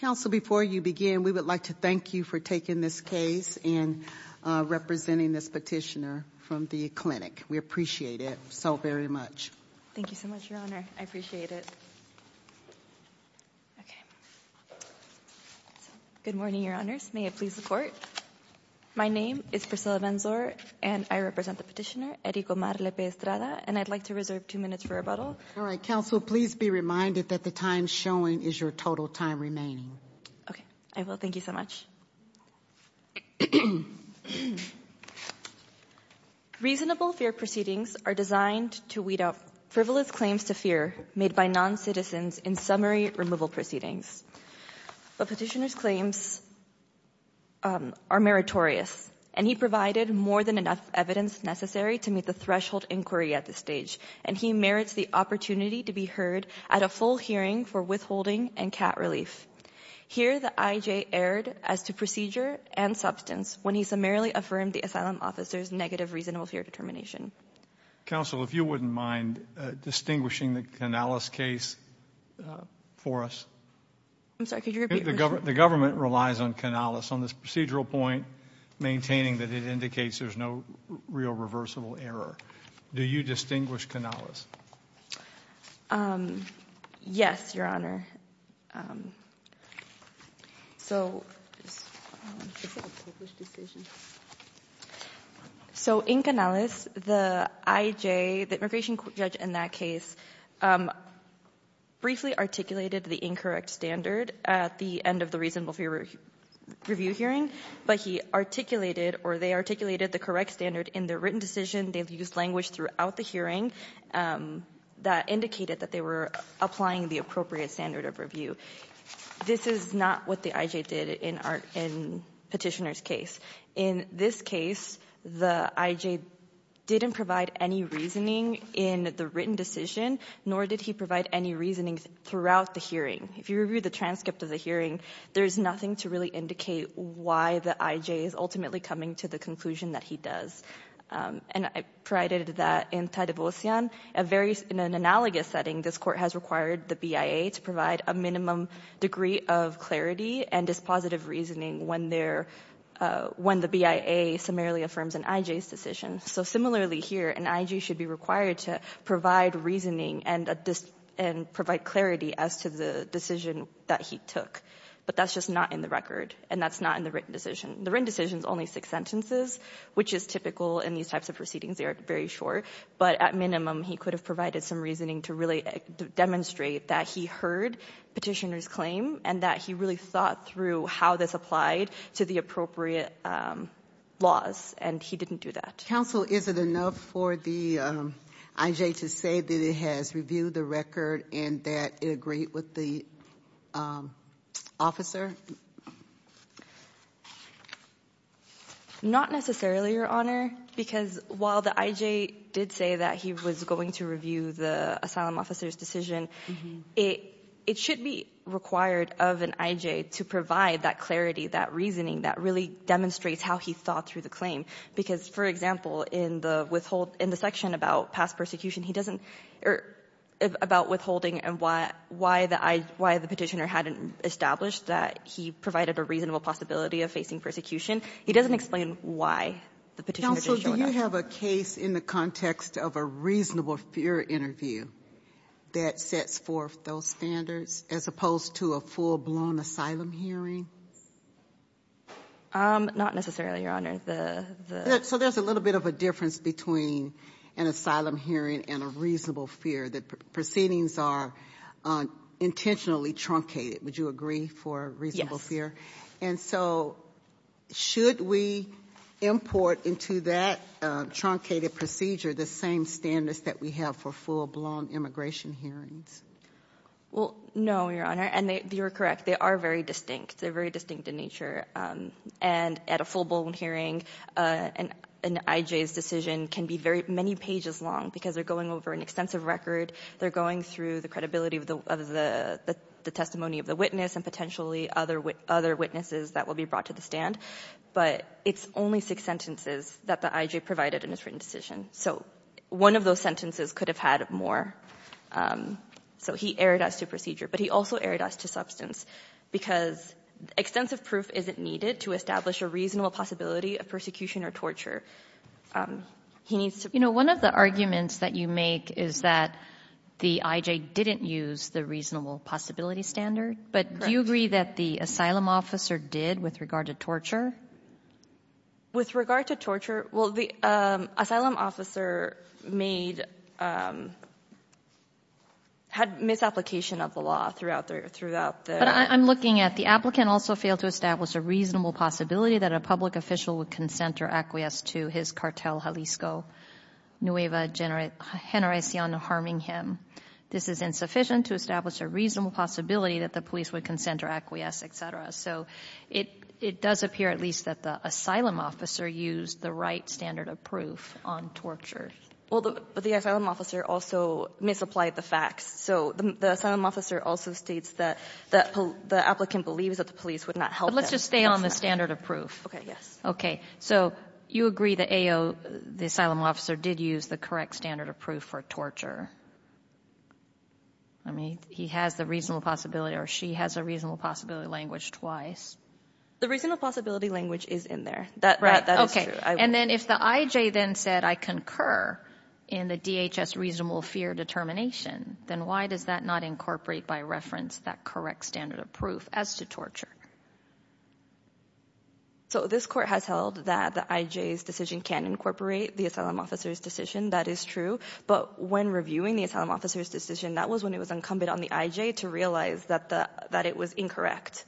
Counsel, before you begin, we would like to thank you for taking this case and representing this petitioner from the clinic. We appreciate it so very much. Thank you so much, Your Honor. I appreciate it. Okay. Good morning, Your Honors. May I please report? My name is Priscilla Benzor, and I represent the petitioner, Erico Mar Lepe Estrada, and I'd like to reserve two minutes for rebuttal. All right. Counsel, please be reminded that the time showing is your total time remaining. Okay. I will. Thank you so much. Reasonable fear proceedings are designed to weed out frivolous claims to fear made by non-citizens in summary removal proceedings, but petitioner's claims are meritorious, and he provided more than enough evidence necessary to meet the threshold inquiry at this stage, and he merits the opportunity to be heard at a full hearing for withholding and cat relief. Here the I.J. erred as to procedure and substance when he summarily affirmed the asylum officer's negative reasonable fear determination. Counsel, if you wouldn't mind distinguishing the Canales case for us. I'm sorry, could you repeat the question? The government relies on Canales on this procedural point, maintaining that it indicates there's no real reversible error. Do you distinguish Canales? Yes, Your Honor. So in Canales, the I.J., the immigration judge in that case, briefly articulated the incorrect standard at the end of the reasonable fear review hearing, but he articulated, or they used language throughout the hearing that indicated that they were applying the appropriate standard of review. This is not what the I.J. did in Petitioner's case. In this case, the I.J. didn't provide any reasoning in the written decision, nor did he provide any reasoning throughout the hearing. If you review the transcript of the hearing, there's nothing to really indicate why the I.J. is ultimately coming to the conclusion that he does. And I provided that in Tai Divosian, a very analogous setting, this Court has required the BIA to provide a minimum degree of clarity and dispositive reasoning when they're – when the BIA summarily affirms an I.J.'s decision. So similarly here, an I.J. should be required to provide reasoning and provide clarity as to the decision that he took. But that's just not in the record, and that's not in the written decision. The written decision is only six sentences, which is typical in these types of proceedings. They are very short. But at minimum, he could have provided some reasoning to really demonstrate that he heard Petitioner's claim and that he really thought through how this applied to the appropriate laws, and he didn't do that. Is it enough for the I.J. to say that it has reviewed the record and that it agreed with the officer? Not necessarily, Your Honor, because while the I.J. did say that he was going to review the asylum officer's decision, it should be required of an I.J. to provide that clarity, that reasoning that really demonstrates how he thought through the claim. Because, for example, in the withhold – in the section about past persecution, he doesn't – or about withholding and why the I – why the Petitioner hadn't established that he provided a reasonable possibility of facing persecution. He doesn't explain why the Petitioner didn't show that. Counsel, do you have a case in the context of a reasonable fear interview that sets forth those standards, as opposed to a full-blown asylum hearing? Not necessarily, Your Honor. The – the – So there's a little bit of a difference between an asylum hearing and a reasonable fear, that proceedings are intentionally truncated. Would you agree for a reasonable fear? And so should we import into that truncated procedure the same standards that we have for full-blown immigration hearings? Well, no, Your Honor. And they – you're correct. They are very distinct. They're very distinct in nature. And at a full-blown hearing, an I.J.'s decision can be very – many pages long, because they're going over an extensive record. They're going through the credibility of the – of the testimony of the witness and potentially other – other witnesses that will be brought to the stand. But it's only six sentences that the I.J. provided in his written decision. So one of those sentences could have had more. So he erred us to procedure, but he also erred us to substance, because extensive proof isn't needed to establish a reasonable possibility of persecution or torture. He needs to – One of the arguments that you make is that the I.J. didn't use the reasonable possibility standard. But do you agree that the asylum officer did with regard to torture? With regard to torture – well, the asylum officer made – had misapplication of the law throughout the – throughout the – But I'm looking at the applicant also failed to establish a reasonable possibility that a public official would consent or acquiesce to his cartel, Jalisco. Nueva Generacion Harming Him. This is insufficient to establish a reasonable possibility that the police would consent or acquiesce, et cetera. So it – it does appear at least that the asylum officer used the right standard of proof on torture. Well, the – but the asylum officer also misapplied the facts. So the asylum officer also states that – that the applicant believes that the police would not help him. But let's just stay on the standard of proof. Okay. Yes. Okay. So you agree that AO – the asylum officer did use the correct standard of proof for torture? I mean, he has the reasonable possibility or she has a reasonable possibility language twice. The reasonable possibility language is in there. That – that is true. And then if the I.J. then said, I concur in the DHS reasonable fear determination, then why does that not incorporate by reference that correct standard of proof as to torture? So this Court has held that the I.J.'s decision can incorporate the asylum officer's That is true. But when reviewing the asylum officer's decision, that was when it was incumbent on the I.J. to realize that the – that it was incorrect.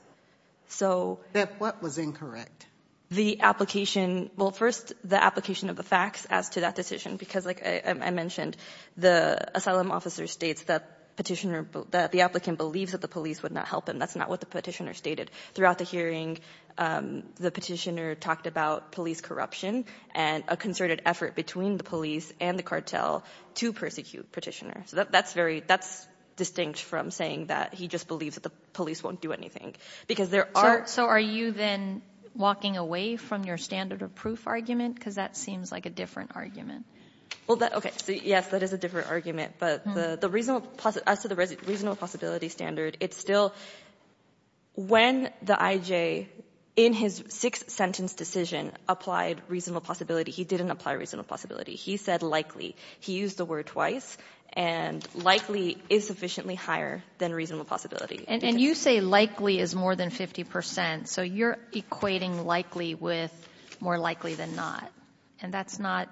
So – That what was incorrect? The application – well, first, the application of the facts as to that decision. Because, like I mentioned, the asylum officer states that Petitioner – that the applicant believes that the police would not help him. That's not what the Petitioner stated. Throughout the hearing, the Petitioner talked about police corruption and a concerted effort between the police and the cartel to persecute Petitioner. So that's very – that's distinct from saying that he just believes that the police won't do anything. Because there are – So are you then walking away from your standard of proof argument? Because that seems like a different argument. Well, that – okay. Yes, that is a different argument. But the reasonable – as to the reasonable possibility standard, it's still – when the I.J., in his six-sentence decision, applied reasonable possibility, he didn't apply reasonable possibility. He said likely. He used the word twice. And likely is sufficiently higher than reasonable possibility. And you say likely is more than 50 percent. So you're equating likely with more likely than not. And that's not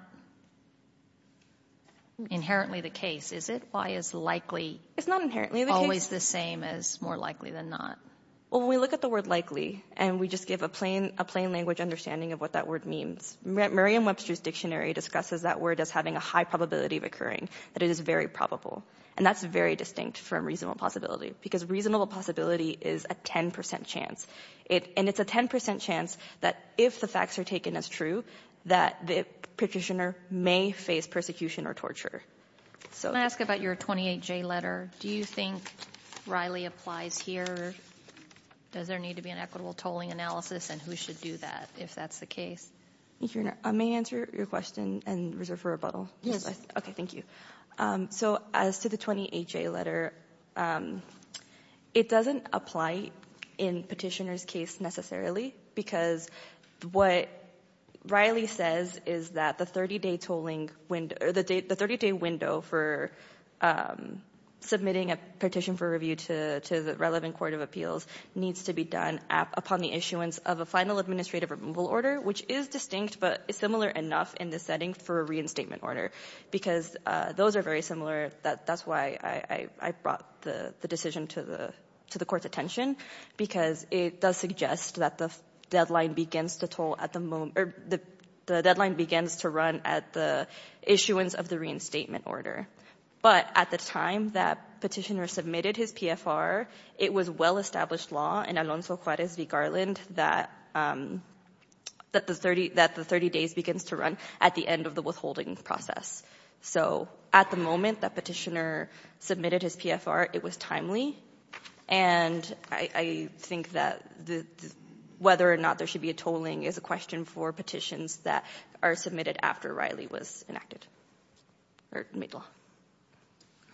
inherently the case, is it? Why is likely always the same as more likely than not? Well, when we look at the word likely and we just give a plain – a plain language understanding of what that word means, Merriam-Webster's dictionary discusses that word as having a high probability of occurring, that it is very probable. And that's very distinct from reasonable possibility, because reasonable possibility is a 10 percent chance. It – and it's a 10 percent chance that if the facts are taken as true, that the Petitioner may face persecution or torture. So — Can I ask about your 28J letter? Do you think Riley applies here? Does there need to be an equitable tolling analysis? And who should do that, if that's the case? Thank you, Your Honor. May I answer your question and reserve for rebuttal? Yes. Okay. Thank you. So as to the 28J letter, it doesn't apply in Petitioner's case necessarily, because what Riley says is that the 30-day tolling – or the 30-day window for submitting a petition for review to the relevant court of appeals needs to be done upon the issuance of a final administrative removal order, which is distinct but similar enough in this because those are very similar. That's why I brought the decision to the Court's attention, because it does suggest that the deadline begins to toll at the moment – or the deadline begins to run at the issuance of the reinstatement order. But at the time that Petitioner submitted his PFR, it was well-established law in Alonso So at the moment that Petitioner submitted his PFR, it was timely. And I think that whether or not there should be a tolling is a question for petitions that are submitted after Riley was enacted – or made law. All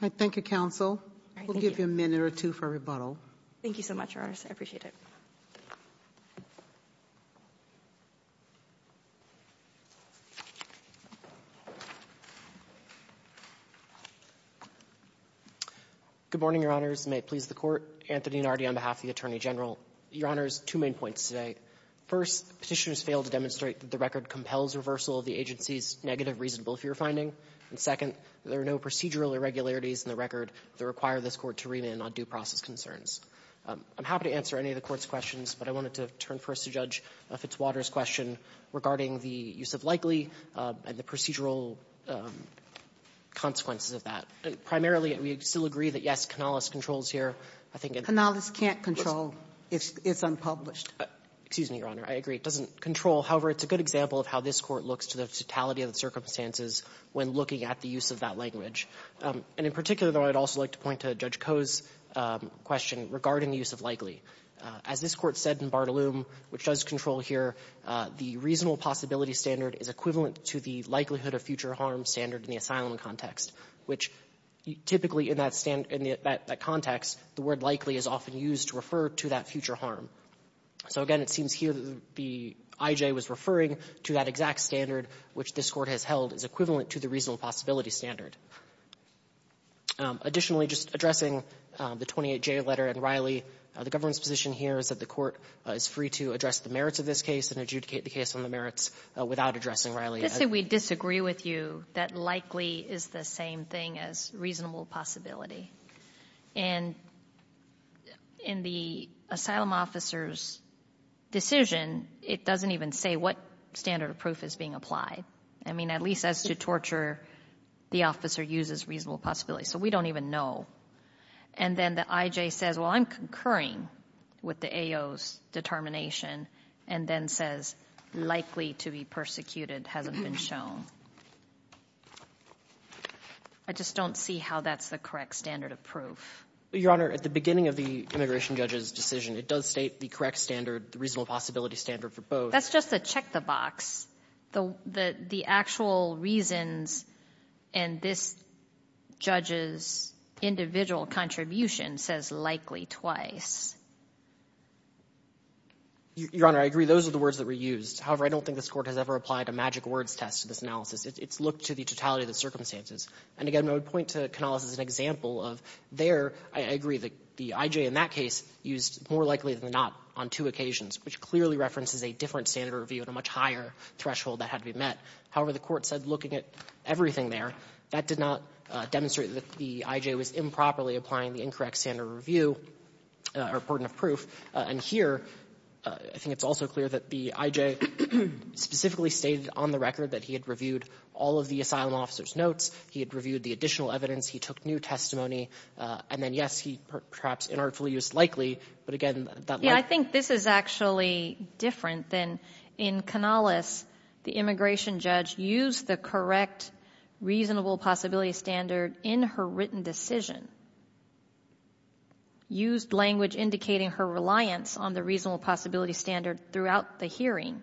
right. Thank you, counsel. We'll give you a minute or two for rebuttal. Thank you so much, Your Honor. I appreciate it. Good morning, Your Honors. May it please the Court. Anthony Nardi on behalf of the Attorney General. Your Honors, two main points today. First, Petitioner has failed to demonstrate that the record compels reversal of the agency's negative reasonable-fear finding. And second, there are no procedural irregularities in the record that require this Court to remand on due process concerns. I'm happy to answer any of the Court's questions, but I wanted to turn first to Judge Coe's question, Fitzwater's question, regarding the use of likely and the procedural consequences of that. Primarily, we still agree that, yes, Canales controls here. I think it's – Canales can't control. It's unpublished. Excuse me, Your Honor. I agree. It doesn't control. However, it's a good example of how this Court looks to the totality of the circumstances when looking at the use of that language. And in particular, though, I'd also like to point to Judge Coe's question regarding the use of likely. As this Court said in Bartolome, which does control here, the reasonable-possibility standard is equivalent to the likelihood-of-future-harm standard in the asylum context, which typically in that stand – in that context, the word likely is often used to refer to that future harm. So, again, it seems here that the IJ was referring to that exact standard which this Court has held is equivalent to the reasonable-possibility standard. Additionally, just addressing the 28J letter and Riley, the government 's position here is that the Court is free to address the merits of this case and adjudicate the case on the merits without addressing Riley. Just that we disagree with you that likely is the same thing as reasonable-possibility. And in the asylum officer's decision, it doesn't even say what standard of proof is being applied. I mean, at least as to torture, the officer uses reasonable-possibility, so we don't even know. And then the IJ says, well, I'm concurring with the standard of proof, with the AO's determination, and then says likely to be persecuted hasn't been shown. I just don't see how that's the correct standard of proof. Waxman. Your Honor, at the beginning of the immigration judge's decision, it does state the correct standard, the reasonable-possibility standard for both. Kagan. That's just a check the box. The actual reasons and this judge's individual contribution says likely twice. Your Honor, I agree. Those are the words that were used. However, I don't think this Court has ever applied a magic words test to this analysis. It's looked to the totality of the circumstances. And, again, I would point to Canales as an example of there, I agree, the IJ in that case used more likely than not on two occasions, which clearly references a different standard of review and a much higher threshold that had to be met. However, the Court said looking at everything there, that did not demonstrate that the IJ was improperly applying the incorrect standard of review or burden of proof. And here, I think it's also clear that the IJ specifically stated on the record that he had reviewed all of the asylum officer's notes, he had reviewed the additional evidence, he took new testimony, and then, yes, he perhaps inarticulately used likely, but, again, that might be the case. Yeah. I think this is actually different than in Canales. In Canales, the immigration judge used the correct reasonable possibility standard in her written decision, used language indicating her reliance on the reasonable possibility standard throughout the hearing,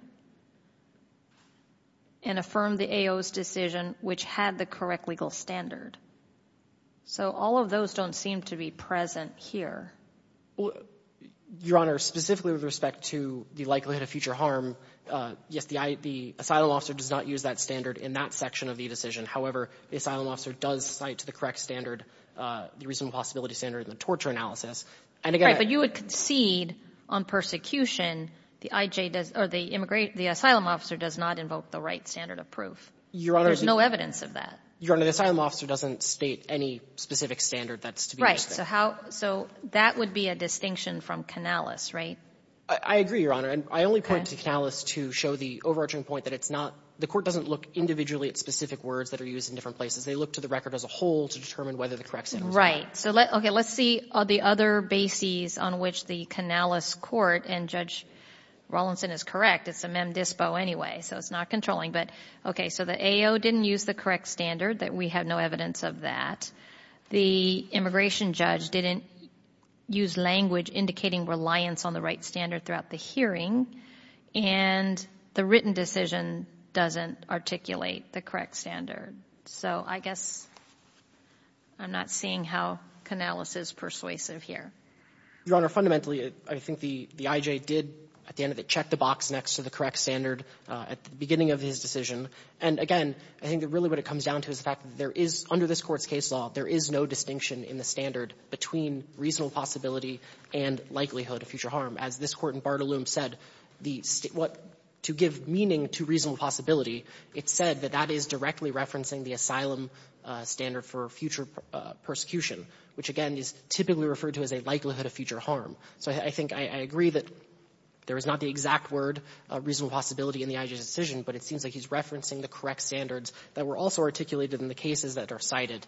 and affirmed the AO's decision, which had the correct legal standard. So all of those don't seem to be present here. Your Honor, specifically with respect to the likelihood of future harm, yes, the IJ does cite the asylum officer does not use that standard in that section of the decision. However, the asylum officer does cite the correct standard, the reasonable possibility standard in the torture analysis. And again the IJ does not invoke the right standard of proof. Your Honor. There's no evidence of that. Your Honor, the asylum officer doesn't state any specific standard that's to be used there. Right. So how so that would be a distinction from Canales, right? I agree, Your Honor. Okay. I only point to Canales to show the overarching point that it's not the court doesn't look individually at specific words that are used in different places. They look to the record as a whole to determine whether the correct standard is correct. Right. So let's see the other bases on which the Canales court and Judge Rawlinson is correct. It's a mem dispo anyway, so it's not controlling. But okay, so the AO didn't use the correct standard, that we have no evidence of that. The immigration judge didn't use language indicating reliance on the right standard throughout the hearing. And the written decision doesn't articulate the correct standard. So I guess I'm not seeing how Canales is persuasive here. Your Honor, fundamentally, I think the IJ did, at the end of it, check the box next to the correct standard at the beginning of his decision. And again, I think that really what it comes down to is the fact that there is, under this Court's case law, there is no distinction in the standard between reasonable possibility and likelihood of future harm. As this Court in Bartolomé said, the state what to give meaning to reasonable possibility, it said that that is directly referencing the asylum standard for future persecution, which, again, is typically referred to as a likelihood of future harm. So I think I agree that there is not the exact word, reasonable possibility, in the IJ's decision, but it seems like he's referencing the correct standards that were also articulated in the cases that are cited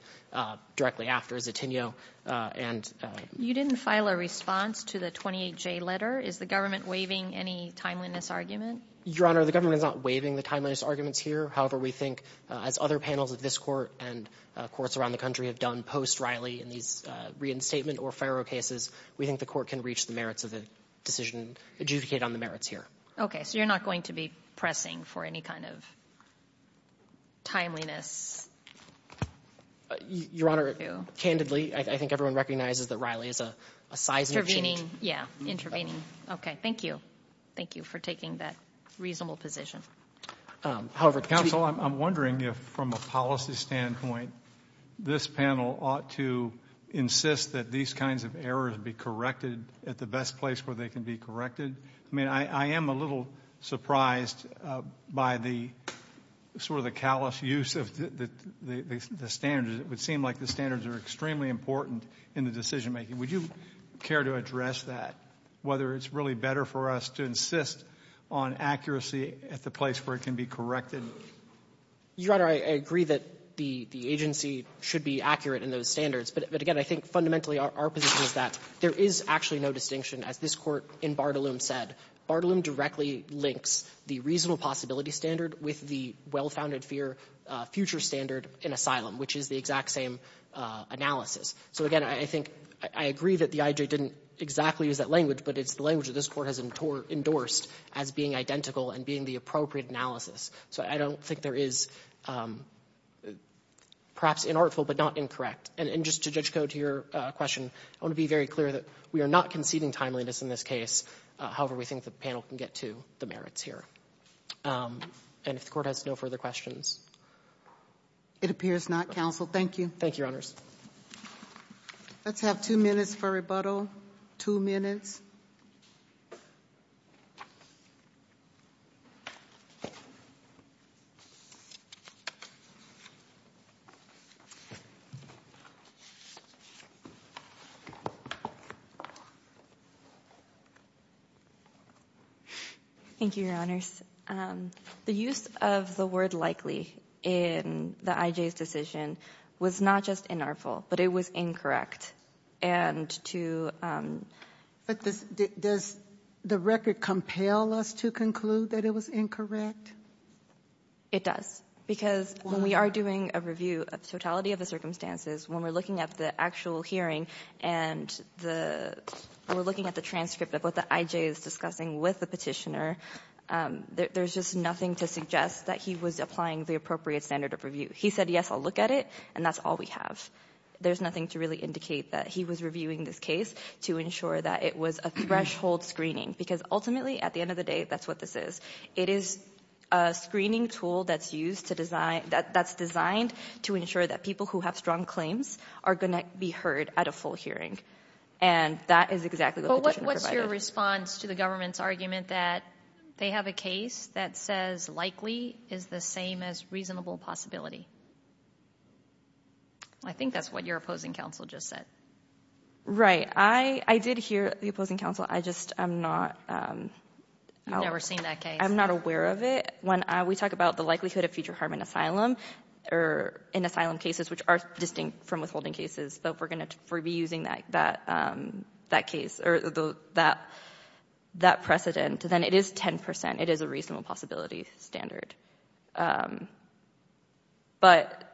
directly after Zittinio and — You didn't file a response to the 28J letter. Is the government waiving any timeliness argument? Your Honor, the government is not waiving the timeliness arguments here. However, we think, as other panels of this Court and courts around the country have done post-Riley in these reinstatement or FIRO cases, we think the Court can reach the merits of the decision adjudicated on the merits here. Okay. So you're not going to be pressing for any kind of timeliness? Your Honor, candidly, I think everyone recognizes that Riley is a sizeable change. Intervening. Yeah. Intervening. Okay. Thank you. Thank you for taking that reasonable position. However, counsel, I'm wondering if, from a policy standpoint, this panel ought to insist that these kinds of errors be corrected at the best place where they can be corrected. I mean, I am a little surprised by the — sort of the callous use of the standards. It would seem like the standards are extremely important in the decision-making. Would you care to address that, whether it's really better for us to insist on accuracy at the place where it can be corrected? Your Honor, I agree that the agency should be accurate in those standards. But, again, I think fundamentally our position is that there is actually no distinction as this Court in Bartolomé said. Bartolomé directly links the reasonable possibility standard with the well-founded fear future standard in asylum, which is the exact same analysis. So, again, I think — I agree that the I.J. didn't exactly use that language, but it's the language that this Court has endorsed as being identical and being the appropriate analysis. So I don't think there is perhaps inartful but not incorrect. And just to Judge Cote, to your question, I want to be very clear that we are not conceding timeliness in this case. However, we think the panel can get to the merits here. And if the Court has no further questions. It appears not, counsel. Thank you. Thank you, Your Honors. Let's have two minutes for rebuttal. Thank you, Your Honors. The use of the word likely in the I.J.'s decision was not just inartful, but it was incorrect. And to — But does the record compel us to conclude that it was incorrect? It does. Because when we are doing a review of totality of the circumstances, when we're looking at the actual hearing and the — we're looking at the transcript of what the I.J. is discussing with the Petitioner, there's just nothing to suggest that he was applying the appropriate standard of review. He said, yes, I'll look at it, and that's all we have. There's nothing to really indicate that he was reviewing this case to ensure that it was a threshold screening. Because ultimately, at the end of the day, that's what this is. It is a screening tool that's used to design — that's designed to ensure that people who have strong claims are going to be heard at a full hearing. And that is exactly what the Petitioner provided. Well, what's your response to the government's argument that they have a case that says likely is the same as reasonable possibility? I think that's what your opposing counsel just said. Right. I did hear the opposing counsel. I just am not — I've never seen that case. I'm not aware of it. When we talk about the likelihood of future harm in asylum or in asylum cases, which are distinct from withholding cases, but we're going to be using that case or that precedent, then it is 10 percent. It is a reasonable possibility standard. But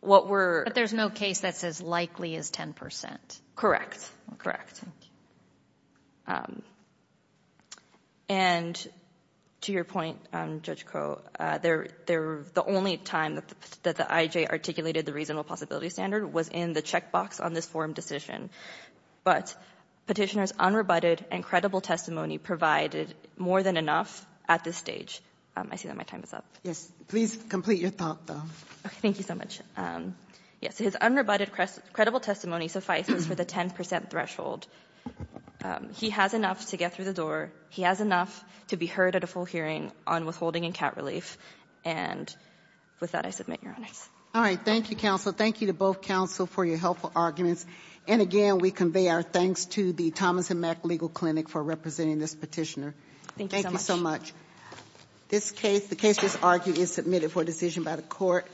what we're — But there's no case that says likely is 10 percent. Correct. Correct. Thank you. And to your point, Judge Koh, the only time that the IJ articulated the reasonable possibility standard was in the checkbox on this forum decision. But Petitioner's unrebutted and credible testimony provided more than enough at this I see that my time is up. Please complete your thought, though. Okay. Thank you so much. Yes. His unrebutted credible testimony suffices for the 10 percent threshold. He has enough to get through the door. He has enough to be heard at a full hearing on withholding and cat relief. And with that, I submit, Your Honors. All right. Thank you, counsel. Thank you to both counsel for your helpful arguments. And again, we convey our thanks to the Thomas & Mack Legal Clinic for representing this petitioner. Thank you so much. This case, the case just argued, is submitted for decision by the Court.